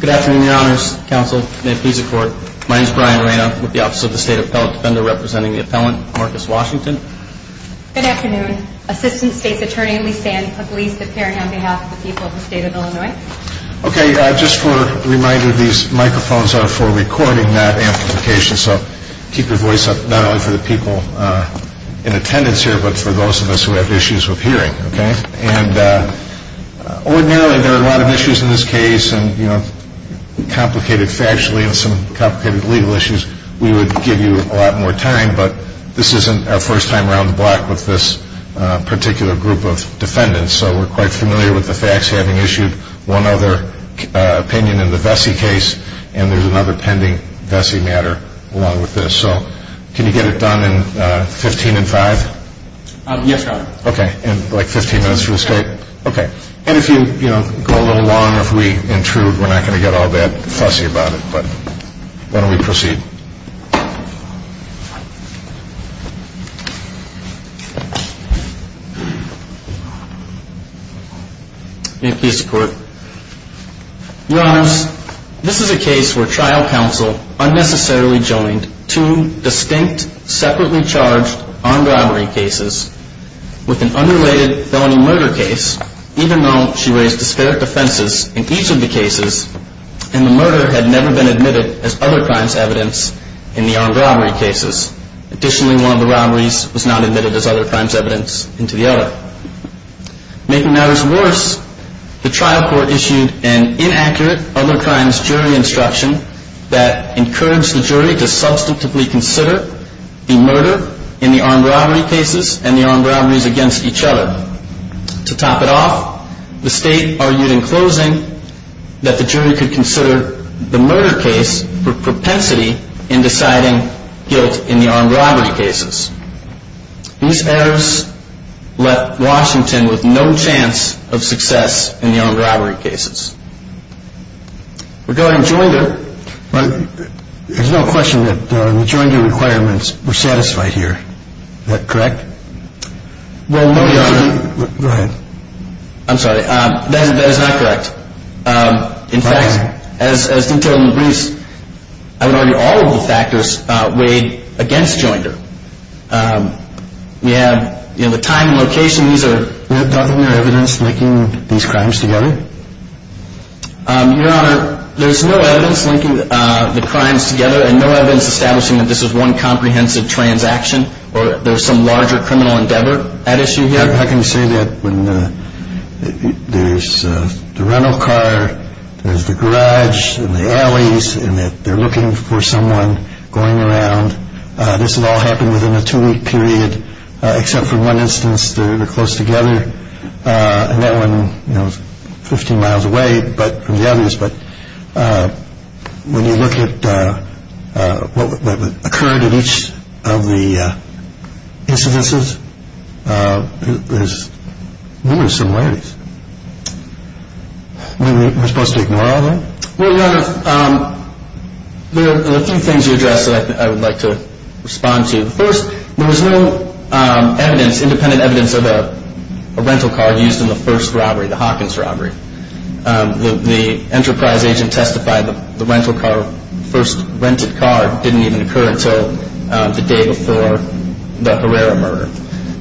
Good afternoon, your honors, counsel, may it please the court, my name is Brian Reyna with the office of the state appellate defender representing the appellant Marcus Washington. Good afternoon, assistant state's attorney Lisanne Pugliese, appearing on behalf of the people of the state of Illinois. Okay, just a reminder, these microphones are for recording that amplification, so keep your voice up not only for the people in attendance here, but for those of us who have issues with hearing. Okay? And ordinarily there are a lot of issues in this case, and you know, complicated factually and some complicated legal issues, we would give you a lot more time, but this isn't our first time around the block with this particular group of defendants, so we're quite familiar with the facts having issued one other opinion in the Vesey case, and there's another pending Vesey matter along with this. Yes, your honor. Okay. And like 15 minutes for the state? Okay. And if you, you know, go a little long, if we intrude, we're not going to get all that fussy about it, but why don't we proceed? May it please the court, your honors, this is a case where trial counsel unnecessarily joined two distinct, separately charged armed robbery cases with an unrelated felony murder case, even though she raised disparate defenses in each of the cases, and the murder had never been admitted as other crimes evidence in the armed robbery cases. Additionally, one of the robberies was not admitted as other crimes evidence into the other. Making matters worse, the trial court issued an inaccurate other crimes jury instruction that encouraged the jury to substantively consider the murder in the armed robbery cases and the armed robberies against each other. To top it off, the state argued in closing that the jury could consider the murder case for propensity in deciding guilt in the armed robbery cases. These errors left Washington with no chance of success in the armed robbery cases. We're going joinder, but there's no question that the joinder requirements were satisfied here. Is that correct? Go ahead. I'm sorry. That is not correct. In fact, as detailed in the briefs, I would argue all of the factors weighed against joinder. We have, you know, the time and location, these are... Wasn't there evidence linking these crimes together? Your Honor, there's no evidence linking the crimes together and no evidence establishing that this is one comprehensive transaction or there's some larger criminal endeavor at issue here. How can you say that when there's the rental car, there's the garage and the alleys and that they're looking for someone going around, this will all happen within a two week period except for one instance they're close together, and that one, you know, is 15 miles away from the others. But when you look at what occurred at each of the incidences, there's numerous similarities. We're supposed to ignore all that? Well, Your Honor, there are a few things you addressed that I would like to respond to. First, there was no evidence, independent evidence of a rental car used in the first robbery, the Hawkins robbery. The enterprise agent testified the rental car, the first rented car didn't even occur until the day before the Herrera murder.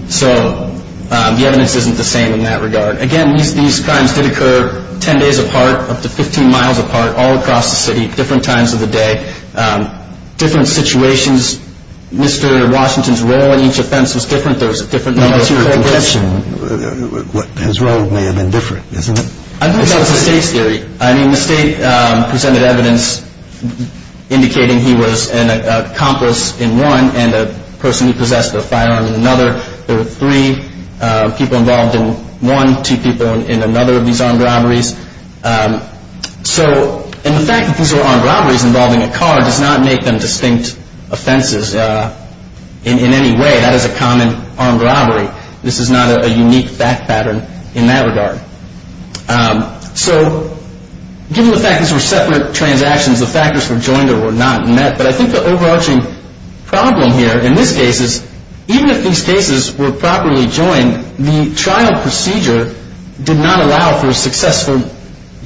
So the evidence isn't the same in that regard. Again, these crimes did occur 10 days apart, up to 15 miles apart, all across the city, different times of the day, different situations. Mr. Washington's role in each offense was different. What's your conception? His role may have been different, isn't it? I think that was the state's theory. I mean, the state presented evidence indicating he was an accomplice in one and a person who possessed a firearm in another. There were three people involved in one, two people in another of these armed robberies. So, and the fact that these were armed robberies involving a car does not make them distinct offenses in any way. That is a common armed robbery. This is not a unique fact pattern in that regard. So, given the fact these were separate transactions, the factors for joinder were not met. But I think the overarching problem here in this case is even if these cases were properly joined, the trial procedure did not allow for a successful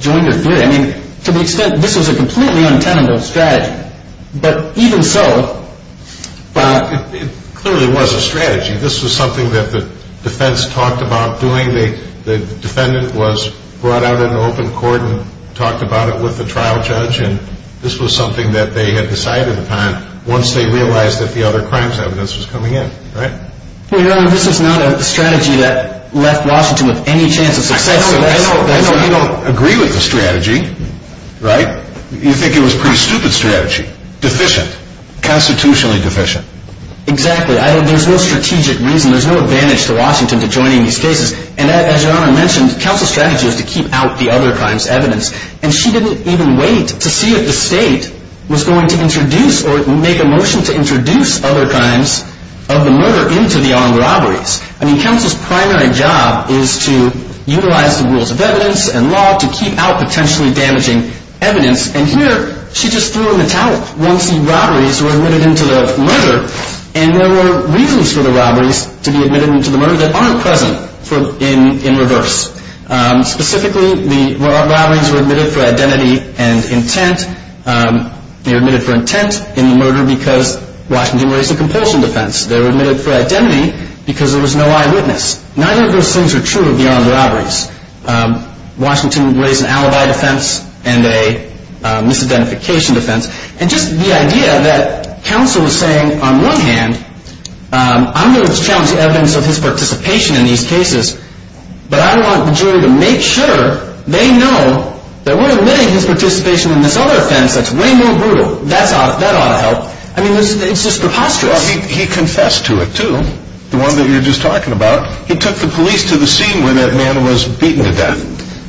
joinder theory. I mean, to the extent this was a completely untenable strategy. But even so, Bob. It clearly was a strategy. This was something that the defense talked about doing. The defendant was brought out in open court and talked about it with the trial judge. And this was something that they had decided upon once they realized that the other crimes evidence was coming in. Right? Your Honor, this was not a strategy that left Washington with any chance of success. I know. I know. You don't agree with the strategy. Right? You think it was a pretty stupid strategy. Deficient. Constitutionally deficient. Exactly. There's no strategic reason. There's no advantage to Washington to joining these cases. And as Your Honor mentioned, counsel's strategy was to keep out the other crimes evidence. And she didn't even wait to see if the state was going to introduce or make a motion to introduce other crimes of the murder into the armed robberies. I mean, counsel's primary job is to utilize the rules of evidence and law to keep out potentially damaging evidence. And here, she just threw them in the towel once the robberies were admitted into the murder. And there were reasons for the robberies to be admitted into the murder that aren't present in reverse. Specifically, the armed robberies were admitted for identity and intent. They were admitted for intent in the murder because Washington raised a compulsion defense. They were admitted for identity because there was no eyewitness. Neither of those things are true of the armed robberies. Washington raised an alibi defense and a misidentification defense. And just the idea that counsel was saying, on one hand, I'm going to challenge the evidence of his participation in these cases. But I want the jury to make sure they know that we're admitting his participation in this other offense that's way more brutal. That ought to help. I mean, it's just preposterous. Well, he confessed to it, too. The one that you're just talking about. He took the police to the scene where that man was beaten to death.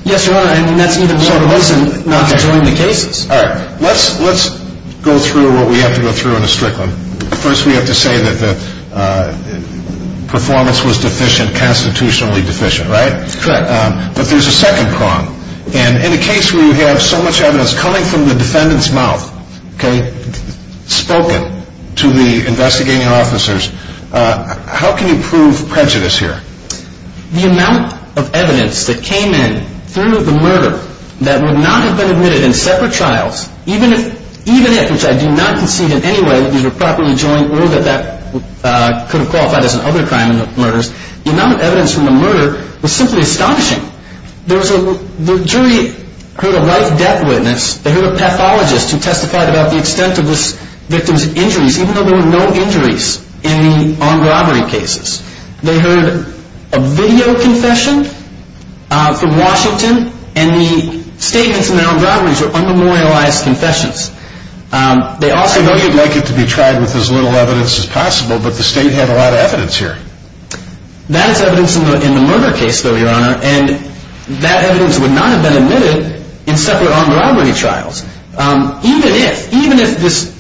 Yes, Your Honor. And that's even more reason not to join the cases. All right. Let's go through what we have to go through in the Strickland. First, we have to say that the performance was deficient, constitutionally deficient, right? Correct. But there's a second prong. And in a case where you have so much evidence coming from the defendant's mouth, okay, spoken to the investigating officers, how can you prove prejudice here? The amount of evidence that came in through the murder that would not have been admitted in separate trials, even if, which I do not concede in any way that these were properly joined or that that could have qualified as another crime in the murders, the amount of evidence from the murder was simply astonishing. The jury heard a life-death witness. They heard a pathologist who testified about the extent of this victim's injuries, even though there were no injuries in the armed robbery cases. They heard a video confession from Washington, and the statements in the armed robberies were unmemorialized confessions. I know you'd like it to be tried with as little evidence as possible, but the state had a lot of evidence here. That is evidence in the murder case, though, Your Honor, and that evidence would not have been admitted in separate armed robbery trials, even if, even if this,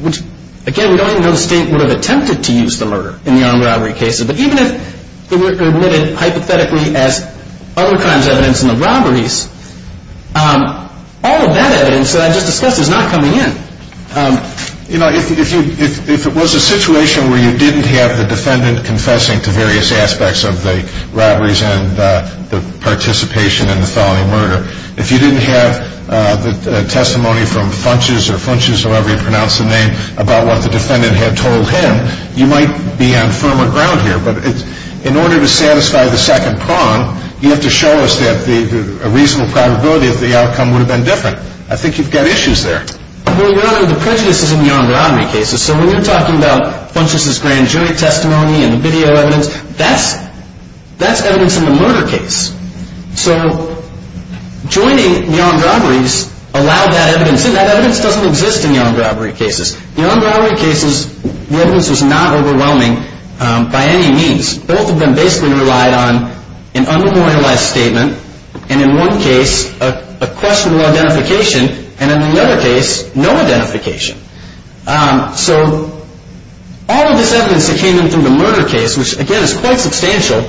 which, again, we don't know if the state would have attempted to use the murder in the armed robbery cases, but even if it were admitted hypothetically as other crimes evidence in the robberies, all of that evidence that I just discussed is not coming in. You know, if you, if it was a situation where you didn't have the defendant confessing to various aspects of the robberies and the participation in the felony murder, if you didn't have the testimony from Funches or Funches, however you pronounce the name, about what the defendant had told him, you might be on firmer ground here, but it's, in order to satisfy the second prong, you have to show us that the, a reasonable probability that the outcome would have been different. I think you've got issues there. Well, Your Honor, the prejudice is in the armed robbery cases, so when you're talking about Funches' grand jury testimony and the video evidence, that's, that's evidence in the murder case. So, joining the armed robberies allowed that evidence, and that evidence doesn't exist in the armed robbery cases. In the armed robbery cases, the evidence was not overwhelming by any means. Both of them basically relied on an unremorialized statement, and in one case, a questionable identification, and in another case, no identification. So, all of this evidence that came in from the murder case, which, again, is quite substantial,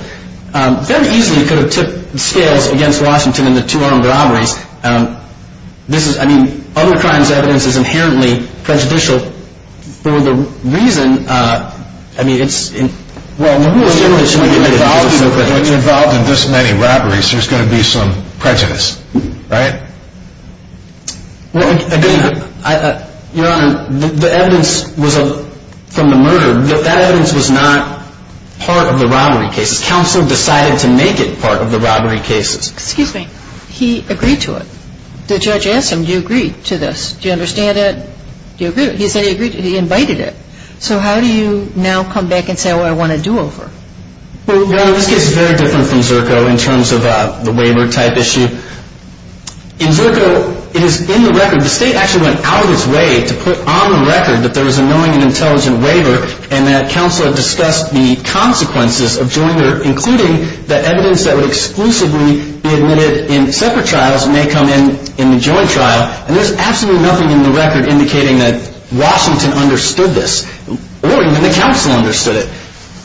very easily could have tipped scales against Washington and the two armed robberies. This is, I mean, other crimes' evidence is inherently prejudicial for the reason, I mean, it's in, well, in the rule of general, it shouldn't be prejudicial. If you're involved in this many robberies, there's going to be some prejudice, right? Well, again, Your Honor, the evidence was from the murder, but that evidence was not part of the robbery cases. Counsel decided to make it part of the robbery cases. Excuse me. He agreed to it. The judge asked him, do you agree to this? Do you understand it? Do you agree? He said he agreed to it. He invited it. So, how do you now come back and say, well, I want a do-over? Well, Your Honor, this case is very different from Zerko in terms of the waiver-type issue. In Zerko, it is in the record, the state actually went out of its way to put on the record that there was a knowing and intelligent waiver, and that counsel had discussed the consequences of joining, including the evidence that would exclusively be admitted in separate trials may come in in the joint trial, and there's absolutely nothing in the record indicating that Washington understood this, or even the counsel understood it.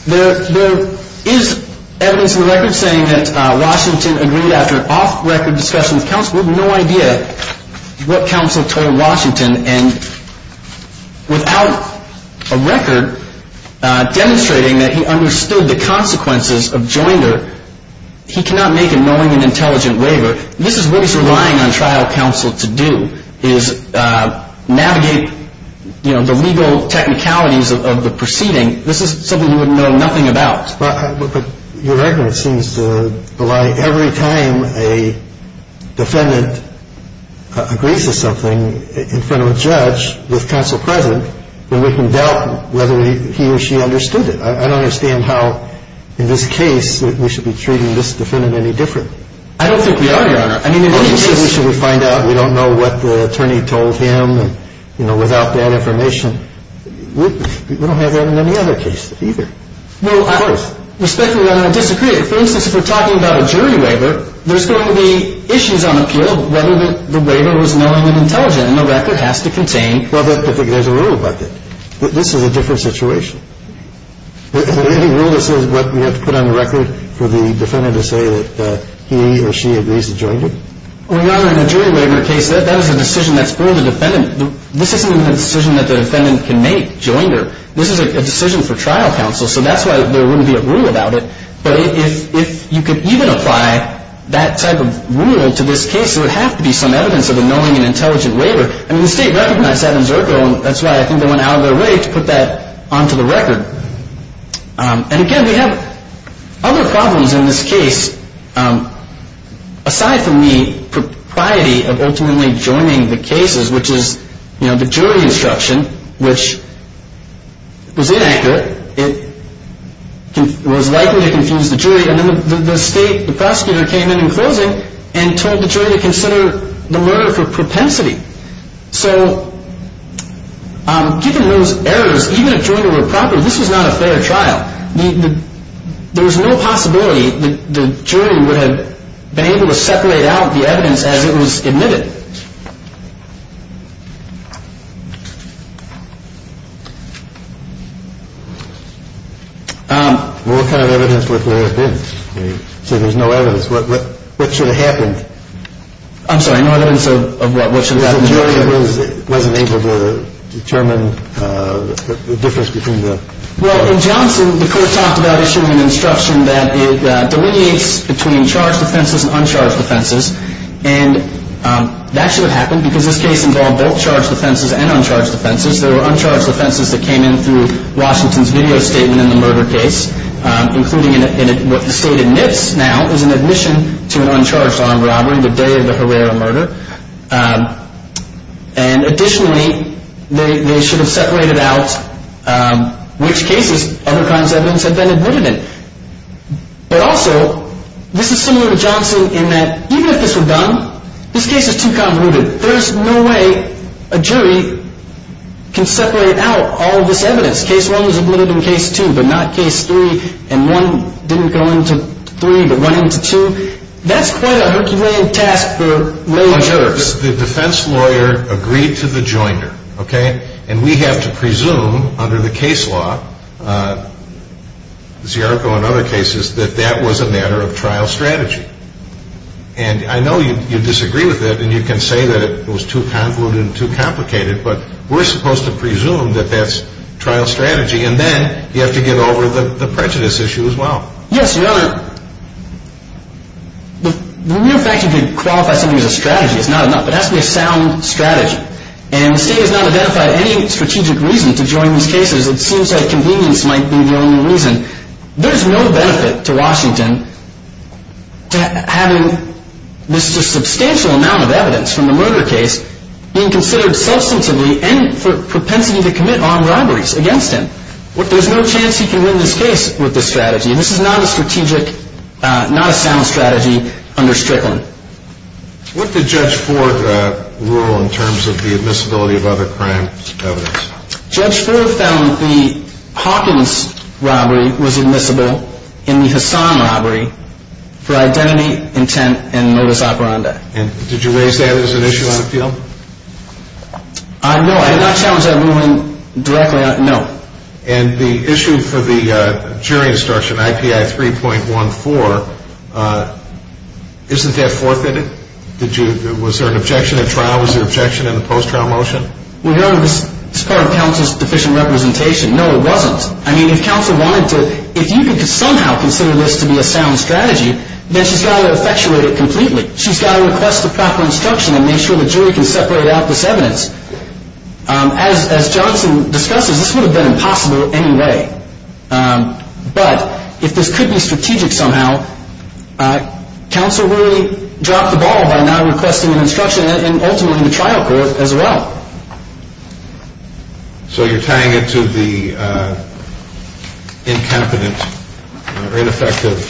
There is evidence in the record saying that Washington agreed after an off-record discussion with counsel. We have no idea what counsel told Washington, and without a record demonstrating that he understood the consequences of joinder, he cannot make a knowing and intelligent waiver. This is what he's relying on trial counsel to do, is navigate, you know, the legal technicalities of the proceeding. This is something you would know nothing about. But your argument seems to belie every time a defendant agrees to something in front of a judge with counsel present, then we can doubt whether he or she understood it. I don't understand how in this case we should be treating this defendant any different. I don't think we are, Your Honor. I mean, in any case we should find out. We don't know what the attorney told him, you know, without that information. We don't have that in any other case either. Well, Your Honor, respectfully, I don't disagree. For instance, if we're talking about a jury waiver, there's going to be issues on appeal whether the waiver was knowing and intelligent, and the record has to contain. Well, there's a rule about that. This is a different situation. Is there any rule that says what we have to put on the record for the defendant to say that he or she agrees to joinder? Well, Your Honor, in a jury waiver case, that is a decision that's for the defendant. This isn't a decision that the defendant can make, joinder. This is a decision for trial counsel, so that's why there wouldn't be a rule about it. But if you could even apply that type of rule to this case, there would have to be some evidence of a knowing and intelligent waiver. I mean, the State recognized that in Zerko, and that's why I think they went out of their way to put that onto the record. And again, we have other problems in this case aside from the propriety of ultimately joining the cases, which is, you know, the jury instruction, which was inaccurate. It was likely to confuse the jury. And then the State, the prosecutor, came in in closing and told the jury to consider the murder for propensity. So given those errors, even if joinder were proper, this was not a fair trial. There was no possibility that the jury would have been able to separate out the evidence as it was admitted. What kind of evidence would there have been? So there's no evidence. What should have happened? I'm sorry, no evidence of what should have happened? The jury wasn't able to determine the difference between the two. Well, in Johnson, the court talked about issuing an instruction that it delineates between charged defenses and uncharged defenses. And that should have happened because this case involved both charged defenses and uncharged defenses. There were uncharged defenses that came in through Washington's video statement in the murder case, including what the State admits now is an admission to an uncharged armed robbery the day of the Herrera murder. And additionally, they should have separated out which cases other crimes evidence had been admitted in. But also, this is similar to Johnson in that even if this were done, this case is too convoluted. There's no way a jury can separate out all of this evidence. Case one was admitted in case two, but not case three. And one didn't go into three, but went into two. That's quite a Herculean task for lawyers. The defense lawyer agreed to the joinder, okay? And we have to presume under the case law, Ziarco and other cases, that that was a matter of trial strategy. And I know you disagree with that, and you can say that it was too convoluted and too complicated, but we're supposed to presume that that's trial strategy. And then you have to get over the prejudice issue as well. Yes, Your Honor, the mere fact that you could qualify something as a strategy is not enough. It has to be a sound strategy. And the State has not identified any strategic reason to join these cases. It seems like convenience might be the only reason. There's no benefit to Washington to having this substantial amount of evidence from the murder case being considered substantively and for propensity to commit armed robberies against him. There's no chance he can win this case with this strategy. This is not a sound strategy under Strickland. What did Judge Ford rule in terms of the admissibility of other crime evidence? Judge Ford found the Hawkins robbery was admissible in the Hassan robbery for identity, intent, and modus operandi. And did you raise that as an issue on appeal? No, I did not challenge that ruling directly. No. And the issue for the jury instruction, IPI 3.14, isn't that forfeited? Was there an objection at trial? Was there an objection in the post-trial motion? Well, Your Honor, this is part of counsel's deficient representation. No, it wasn't. I mean, if counsel wanted to, if you could somehow consider this to be a sound strategy, then she's got to effectuate it completely. She's got to request the proper instruction and make sure the jury can separate out this evidence. As Johnson discusses, this would have been impossible anyway. But if this could be strategic somehow, counsel really dropped the ball by not requesting an instruction and ultimately in the trial court as well. So you're tying it to the incompetent or ineffective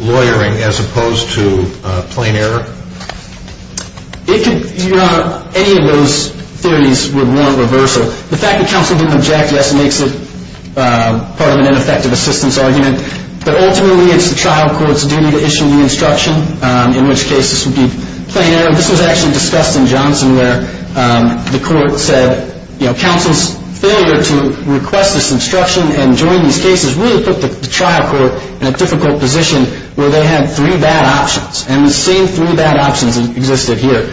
lawyering as opposed to plain error? It could, Your Honor, any of those theories would warrant reversal. The fact that counsel didn't object, yes, makes it part of an ineffective assistance argument. But ultimately it's the trial court's duty to issue the instruction, in which case this would be plain error. This was actually discussed in Johnson where the court said, you know, counsel's failure to request this instruction and join these cases really put the trial court in a difficult position where they had three bad options. And the same three bad options existed here.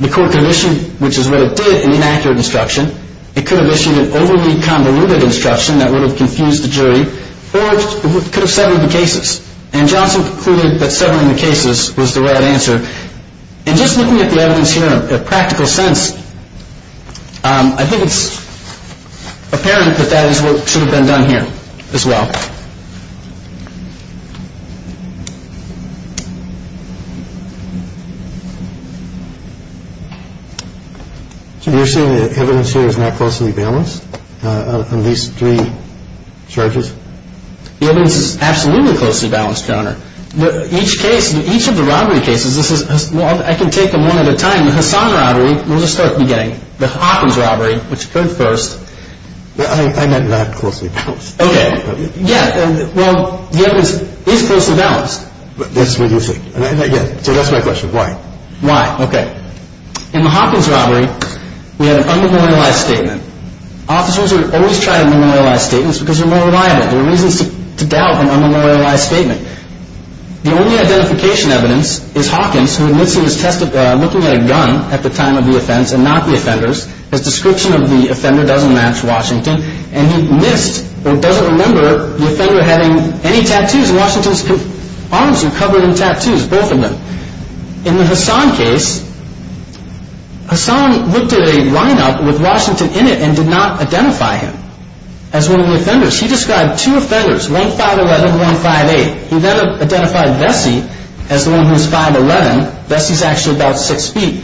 The court could have issued, which is what it did, an inaccurate instruction. It could have issued an overly convoluted instruction that would have confused the jury. Or it could have settled the cases. And Johnson concluded that settling the cases was the right answer. And just looking at the evidence here in a practical sense, I think it's apparent that that is what should have been done here as well. So you're saying the evidence here is not closely balanced on these three charges? The evidence is absolutely closely balanced, Your Honor. Each case, each of the robbery cases, I can take them one at a time. In the Hassan robbery, we'll just start at the beginning. The Hawkins robbery, which occurred first. I meant not closely balanced. Okay. Yeah, well, the evidence is closely balanced. That's what you think. So that's my question. Why? Why? Okay. In the Hawkins robbery, we had an unmemorialized statement. Officers always try to memorialize statements because they're more reliable. There are reasons to doubt an unmemorialized statement. The only identification evidence is Hawkins, who admits he was looking at a gun at the time of the offense and not the offenders. His description of the offender doesn't match Washington. And he missed or doesn't remember the offender having any tattoos. Washington's arms are covered in tattoos, both of them. In the Hassan case, Hassan looked at a lineup with Washington in it and did not identify him as one of the offenders. He described two offenders, 1511 and 158. He then identified Vessi as the one who was 511. Vessi's actually about six feet.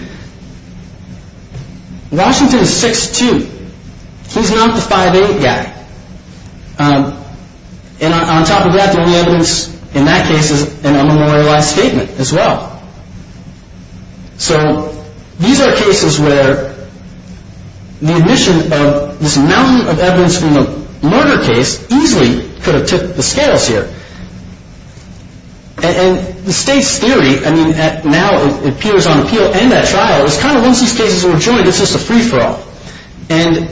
Washington is 6'2". He's not the 5'8 guy. And on top of that, the only evidence in that case is an unmemorialized statement as well. So these are cases where the admission of this mountain of evidence from a murder case easily could have tipped the scales here. And the state's theory, I mean, now it appears on appeal and at trial, is kind of once these cases are joined, it's just a free-for-all. And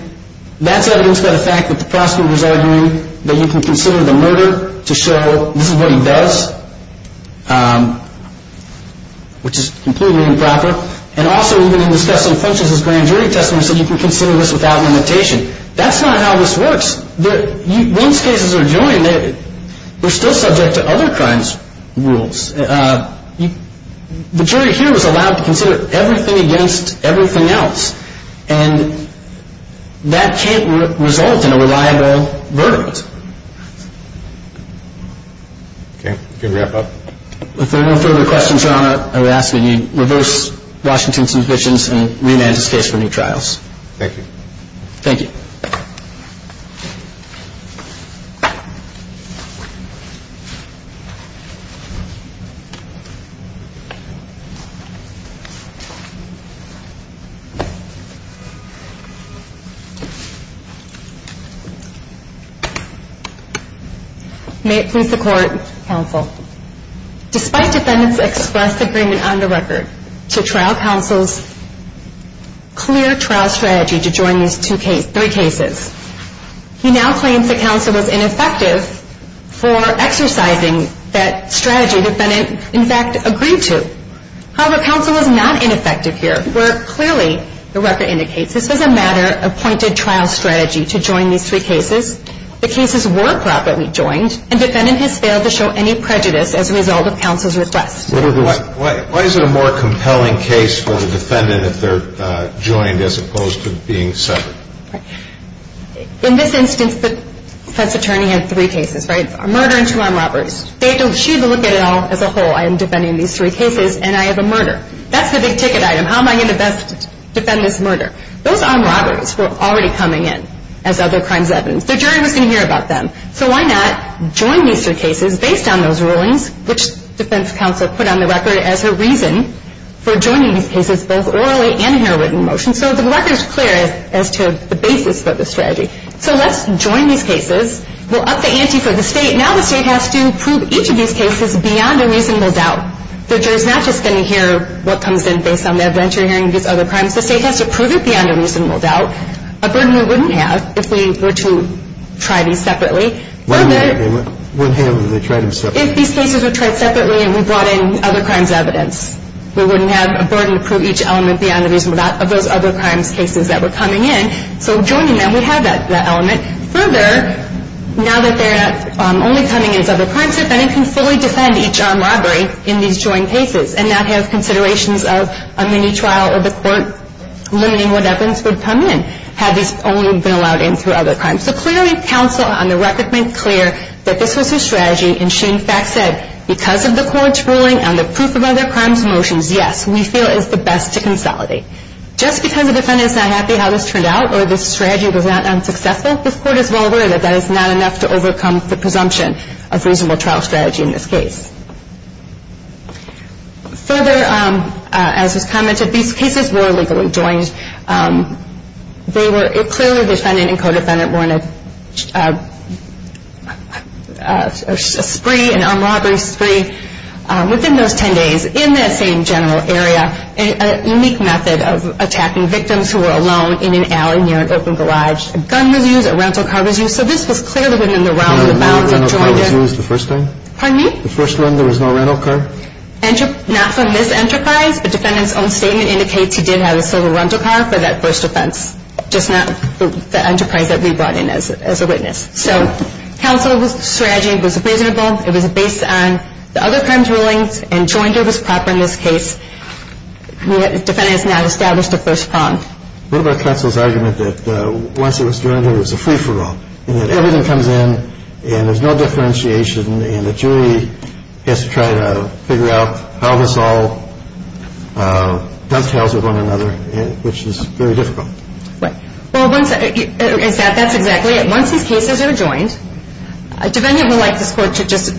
that's evidence by the fact that the prosecutor's arguing that you can consider the murder to show this is what he does. Which is completely improper. And also, even in discussing functions as grand jury testimony, he said you can consider this without limitation. That's not how this works. Once cases are joined, they're still subject to other crimes' rules. The jury here is allowed to consider everything against everything else. And that can't result in a reliable verdict. If there are no further questions, Your Honor, I would ask that you reverse Washington's suspicions and remand his case for new trials. Thank you. Thank you. May it please the Court, Counsel. Despite defendants' express agreement on the record to trial counsel's clear trial strategy to join these three cases, he now claims that counsel was ineffective for exercising that strategy the defendant, in fact, agreed to. However, counsel was not ineffective here, where clearly the record indicates this was a matter-appointed trial strategy to join these three cases. The cases were properly joined, and defendant has failed to show any prejudice as a result of counsel's request. Why is it a more compelling case for the defendant if they're joined as opposed to being severed? In this instance, the press attorney had three cases, right? A murder and two armed robberies. She had to look at it all as a whole. I am defending these three cases, and I have a murder. That's the big ticket item. How am I going to best defend this murder? Those armed robberies were already coming in as other crimes evidence. The jury was going to hear about them. So why not join these three cases based on those rulings, which defense counsel put on the record as her reason for joining these cases, both orally and in a written motion, so the record is clear as to the basis of the strategy. So let's join these cases. We'll up the ante for the State. Now the State has to prove each of these cases beyond a reasonable doubt. The jury is not just going to hear what comes in based on their venture hearing of these other crimes. The State has to prove it beyond a reasonable doubt. A burden we wouldn't have if we were to try these separately. Further. One hand when they tried them separately. If these cases were tried separately and we brought in other crimes evidence, we wouldn't have a burden to prove each element beyond a reasonable doubt of those other crimes cases that were coming in. So joining them, we have that element. Further, now that they're only coming in as other crimes evidence, we can fully defend each armed robbery in these joined cases and not have considerations of a mini-trial or the court limiting what evidence would come in had these only been allowed in through other crimes. So clearly counsel on the record made clear that this was her strategy, and she in fact said because of the Court's ruling and the proof of other crimes motions, yes, we feel it is the best to consolidate. Just because the defendant is not happy how this turned out or this strategy was not successful, this Court is well aware that that is not enough to overcome the presumption of reasonable trial strategy in this case. Further, as was commented, these cases were legally joined. They were clearly defendant and co-defendant were in a spree, an armed robbery spree. Within those 10 days, in that same general area, a unique method of attacking victims who were alone in an alley near an open garage, a gun was used, a rental car was used. So this was clearly within the realm of the bounds of jointed. The gun was used the first time? Pardon me? The first time there was no rental car? Not from this enterprise, but defendant's own statement indicates he did have a silver rental car for that first offense, just not the enterprise that we brought in as a witness. So counsel's strategy was reasonable. It was based on the other crimes rulings, and jointed was proper in this case. Defendant has not established a first prong. What about counsel's argument that once it was joined, there was a free-for-all, and that everything comes in, and there's no differentiation, and the jury has to try to figure out how this all dovetails with one another, which is very difficult? Right. Well, that's exactly it. Once these cases are joined, defendant would like this court to just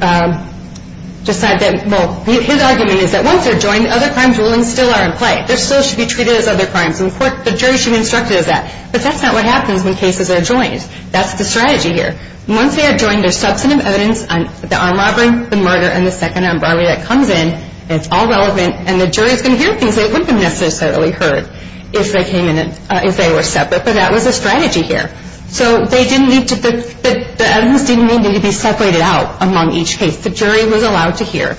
decide that, well, his argument is that once they're joined, other crimes rulings still are in play. They still should be treated as other crimes, and the jury should be instructed as that. But that's not what happens when cases are joined. That's the strategy here. Once they are joined, there's substantive evidence on the armed robbery, the murder, and the second armed robbery that comes in, and it's all relevant, and the jury is going to hear things they wouldn't have necessarily heard if they came in, if they were separate, but that was the strategy here. So they didn't need to be – the evidence didn't need to be separated out among each case. The jury was allowed to hear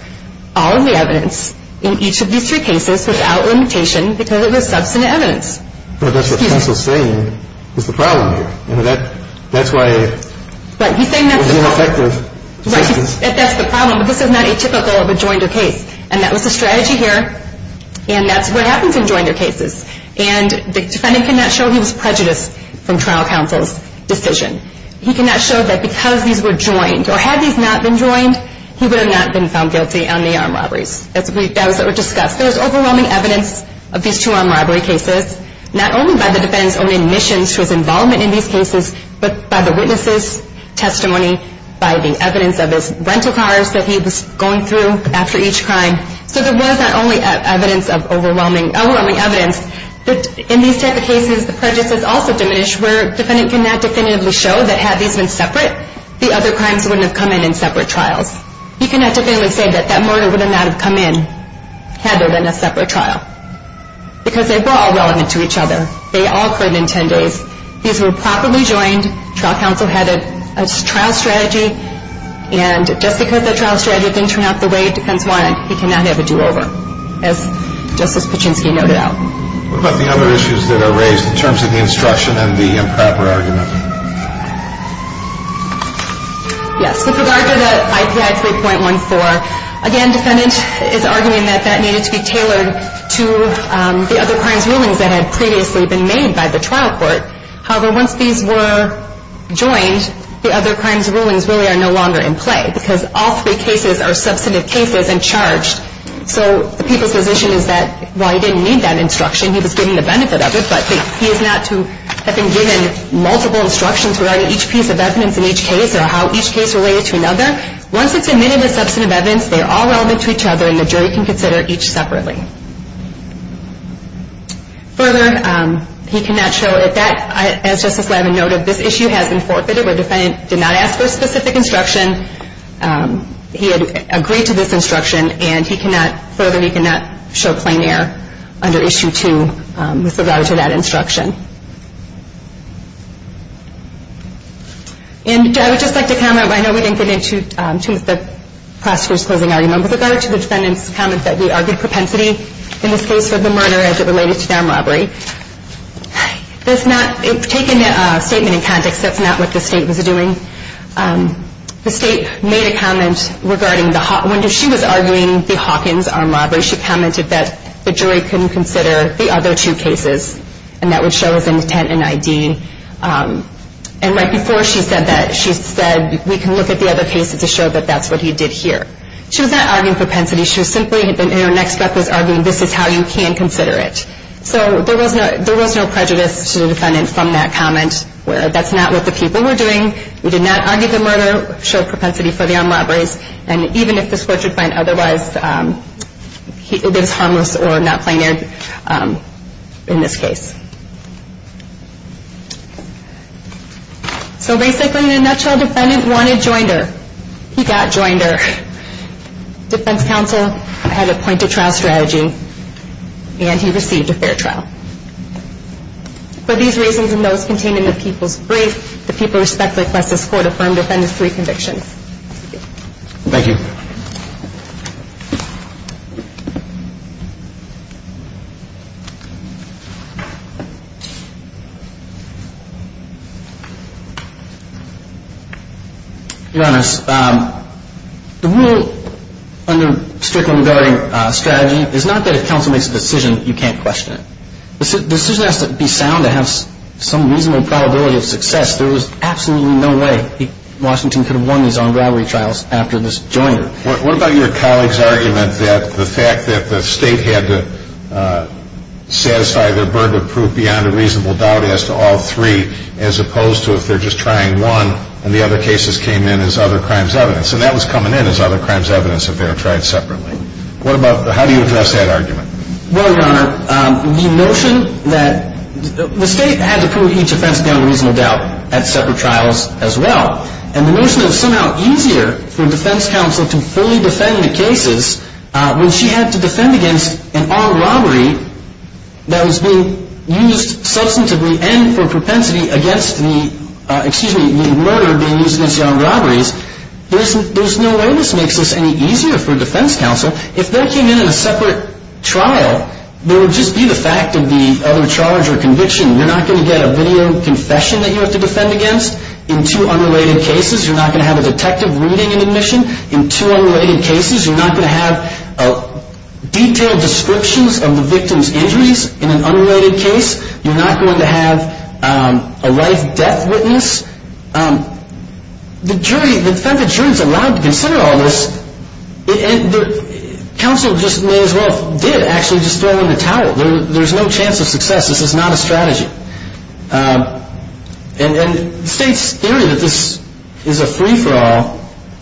all of the evidence in each of these three cases without limitation because it was substantive evidence. But that's what counsel's saying is the problem here. You know, that's why – Right. He's saying that's the problem. But this is not atypical of a joined or case, and that was the strategy here, and that's what happens in joined or cases. And the defendant cannot show he was prejudiced from trial counsel's decision. He cannot show that because these were joined, or had these not been joined, he would have not been found guilty on the armed robberies. That was what was discussed. There's overwhelming evidence of these two armed robbery cases, not only by the defendant's own admissions to his involvement in these cases, but by the witness's testimony, by the evidence of his rental cars that he was going through after each crime. So there was not only evidence of overwhelming evidence, but in these type of cases the prejudice is also diminished where the defendant cannot definitively show that had these been separate, the other crimes wouldn't have come in in separate trials. He cannot definitively say that that murder would not have come in had there been a separate trial because they were all relevant to each other. They all occurred in 10 days. These were properly joined. Trial counsel had a trial strategy, and just because that trial strategy didn't turn out the way the defense wanted, he cannot have a do-over, just as Paczynski noted out. What about the other issues that are raised in terms of the instruction and the improper argument? Yes, with regard to the IPI 3.14, again, defendant is arguing that that needed to be tailored to the other crimes rulings that had previously been made by the trial court. However, once these were joined, the other crimes rulings really are no longer in play because all three cases are substantive cases and charged. So the people's position is that while he didn't need that instruction, he was getting the benefit of it, but he is not to have been given multiple instructions regarding each piece of evidence in each case or how each case related to another. Once it's admitted as substantive evidence, they are all relevant to each other, and the jury can consider each separately. Further, he cannot show, as Justice Lavin noted, this issue has been forfeited where the defendant did not ask for a specific instruction. He had agreed to this instruction, and further, he cannot show plain error under Issue 2 with regard to that instruction. And I would just like to comment. I know we didn't get into the prosecutor's closing argument. With regard to the defendant's comment that he argued propensity, in this case for the murder, as it related to the armed robbery, that's not, taking a statement in context, that's not what the State was doing. The State made a comment regarding the, when she was arguing the Hawkins armed robbery, she commented that the jury couldn't consider the other two cases, and that would show his intent and ID. And right before she said that, she said, we can look at the other cases to show that that's what he did here. She was not arguing propensity. She was simply, in her next breath, was arguing this is how you can consider it. So there was no prejudice to the defendant from that comment where that's not what the people were doing. We did not argue the murder, show propensity for the armed robberies, and even if the court should find otherwise, it is harmless or not plainer in this case. So basically, in a nutshell, the defendant wanted Joinder. He got Joinder. Defense counsel had a point of trial strategy, and he received a fair trial. For these reasons and those contained in the people's brief, the people respect the request of the court to affirm the defendant's three convictions. Thank you. Thank you. Your Honor, the rule under strictly regarding strategy is not that if counsel makes a decision, you can't question it. The decision has to be sound to have some reasonable probability of success. There was absolutely no way Washington could have won these armed robbery trials after this Joinder. What about your colleague's argument that the fact that the State had to satisfy their burden of proof beyond a reasonable doubt as to all three as opposed to if they're just trying one and the other cases came in as other crimes evidence, and that was coming in as other crimes evidence if they were tried separately. How do you address that argument? Well, Your Honor, the notion that the State had to prove each offense beyond a reasonable doubt at separate trials as well, and the notion that it was somehow easier for defense counsel to fully defend the cases when she had to defend against an armed robbery that was being used substantively and for propensity against the murder being used against the armed robberies, there's no way this makes this any easier for defense counsel. If they came in in a separate trial, there would just be the fact of the other charge or conviction. You're not going to get a video confession that you have to defend against in two unrelated cases. You're not going to have a detective reading an admission in two unrelated cases. You're not going to have detailed descriptions of the victim's injuries in an unrelated case. You're not going to have a life-death witness. The jury, the defense attorney is allowed to consider all this, and counsel just may as well did actually just throw in the towel. There's no chance of success. This is not a strategy. And the State's theory that this is a free-for-all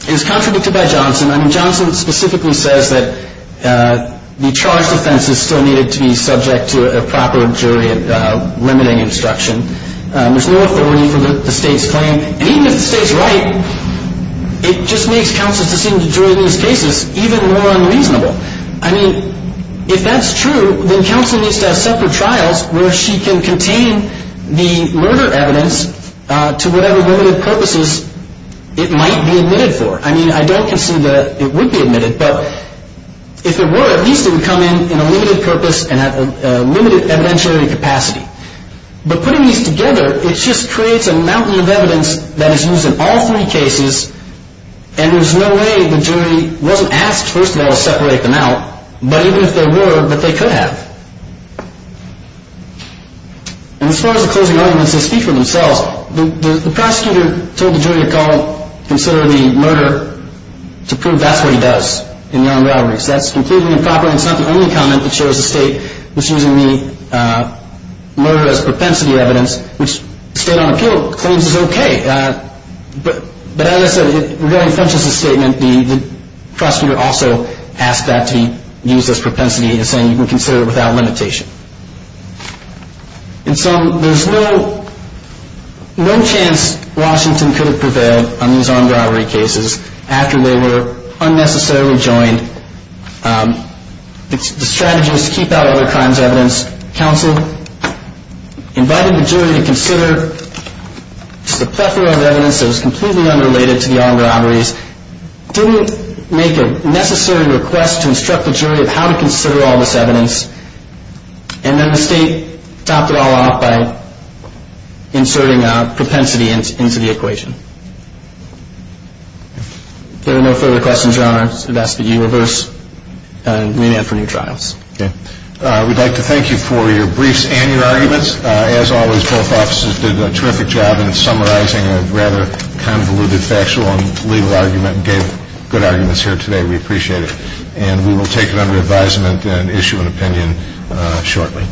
is contradicted by Johnson. I mean, Johnson specifically says that the charged offense is still needed to be subject to a proper jury limiting instruction. There's no authority for the State's claim. And even if the State's right, it just makes counsel's decision to jury these cases even more unreasonable. I mean, if that's true, then counsel needs to have separate trials where she can contain the murder evidence to whatever limited purposes it might be admitted for. I mean, I don't concede that it would be admitted, but if it were, at least it would come in in a limited purpose and a limited evidentiary capacity. But putting these together, it just creates a mountain of evidence that is used in all three cases, and there's no way the jury wasn't asked, first of all, to separate them out, but even if they were, that they could have. And as far as the closing arguments, they speak for themselves. The prosecutor told the jury to consider the murder to prove that's what he does in the armed robberies. That's completely improper, and it's not the only comment that shows the State was using the murder as propensity evidence, which the State on appeal claims is okay. But as I said, it really functions as a statement. The prosecutor also asked that to be used as propensity as saying you can consider it without limitation. And so there's no chance Washington could have prevailed on these armed robbery cases after they were unnecessarily joined. The strategy was to keep out all the crimes evidence. The State asked counsel, invited the jury to consider just a plethora of evidence that was completely unrelated to the armed robberies, didn't make a necessary request to instruct the jury of how to consider all this evidence, and then the State topped it all off by inserting propensity into the equation. If there are no further questions, Your Honor, I would ask that you reverse and re-ad for new trials. Okay. We'd like to thank you for your briefs and your arguments. As always, both officers did a terrific job in summarizing a rather convoluted factual and legal argument and gave good arguments here today. We appreciate it. And we will take it under advisement and issue an opinion shortly.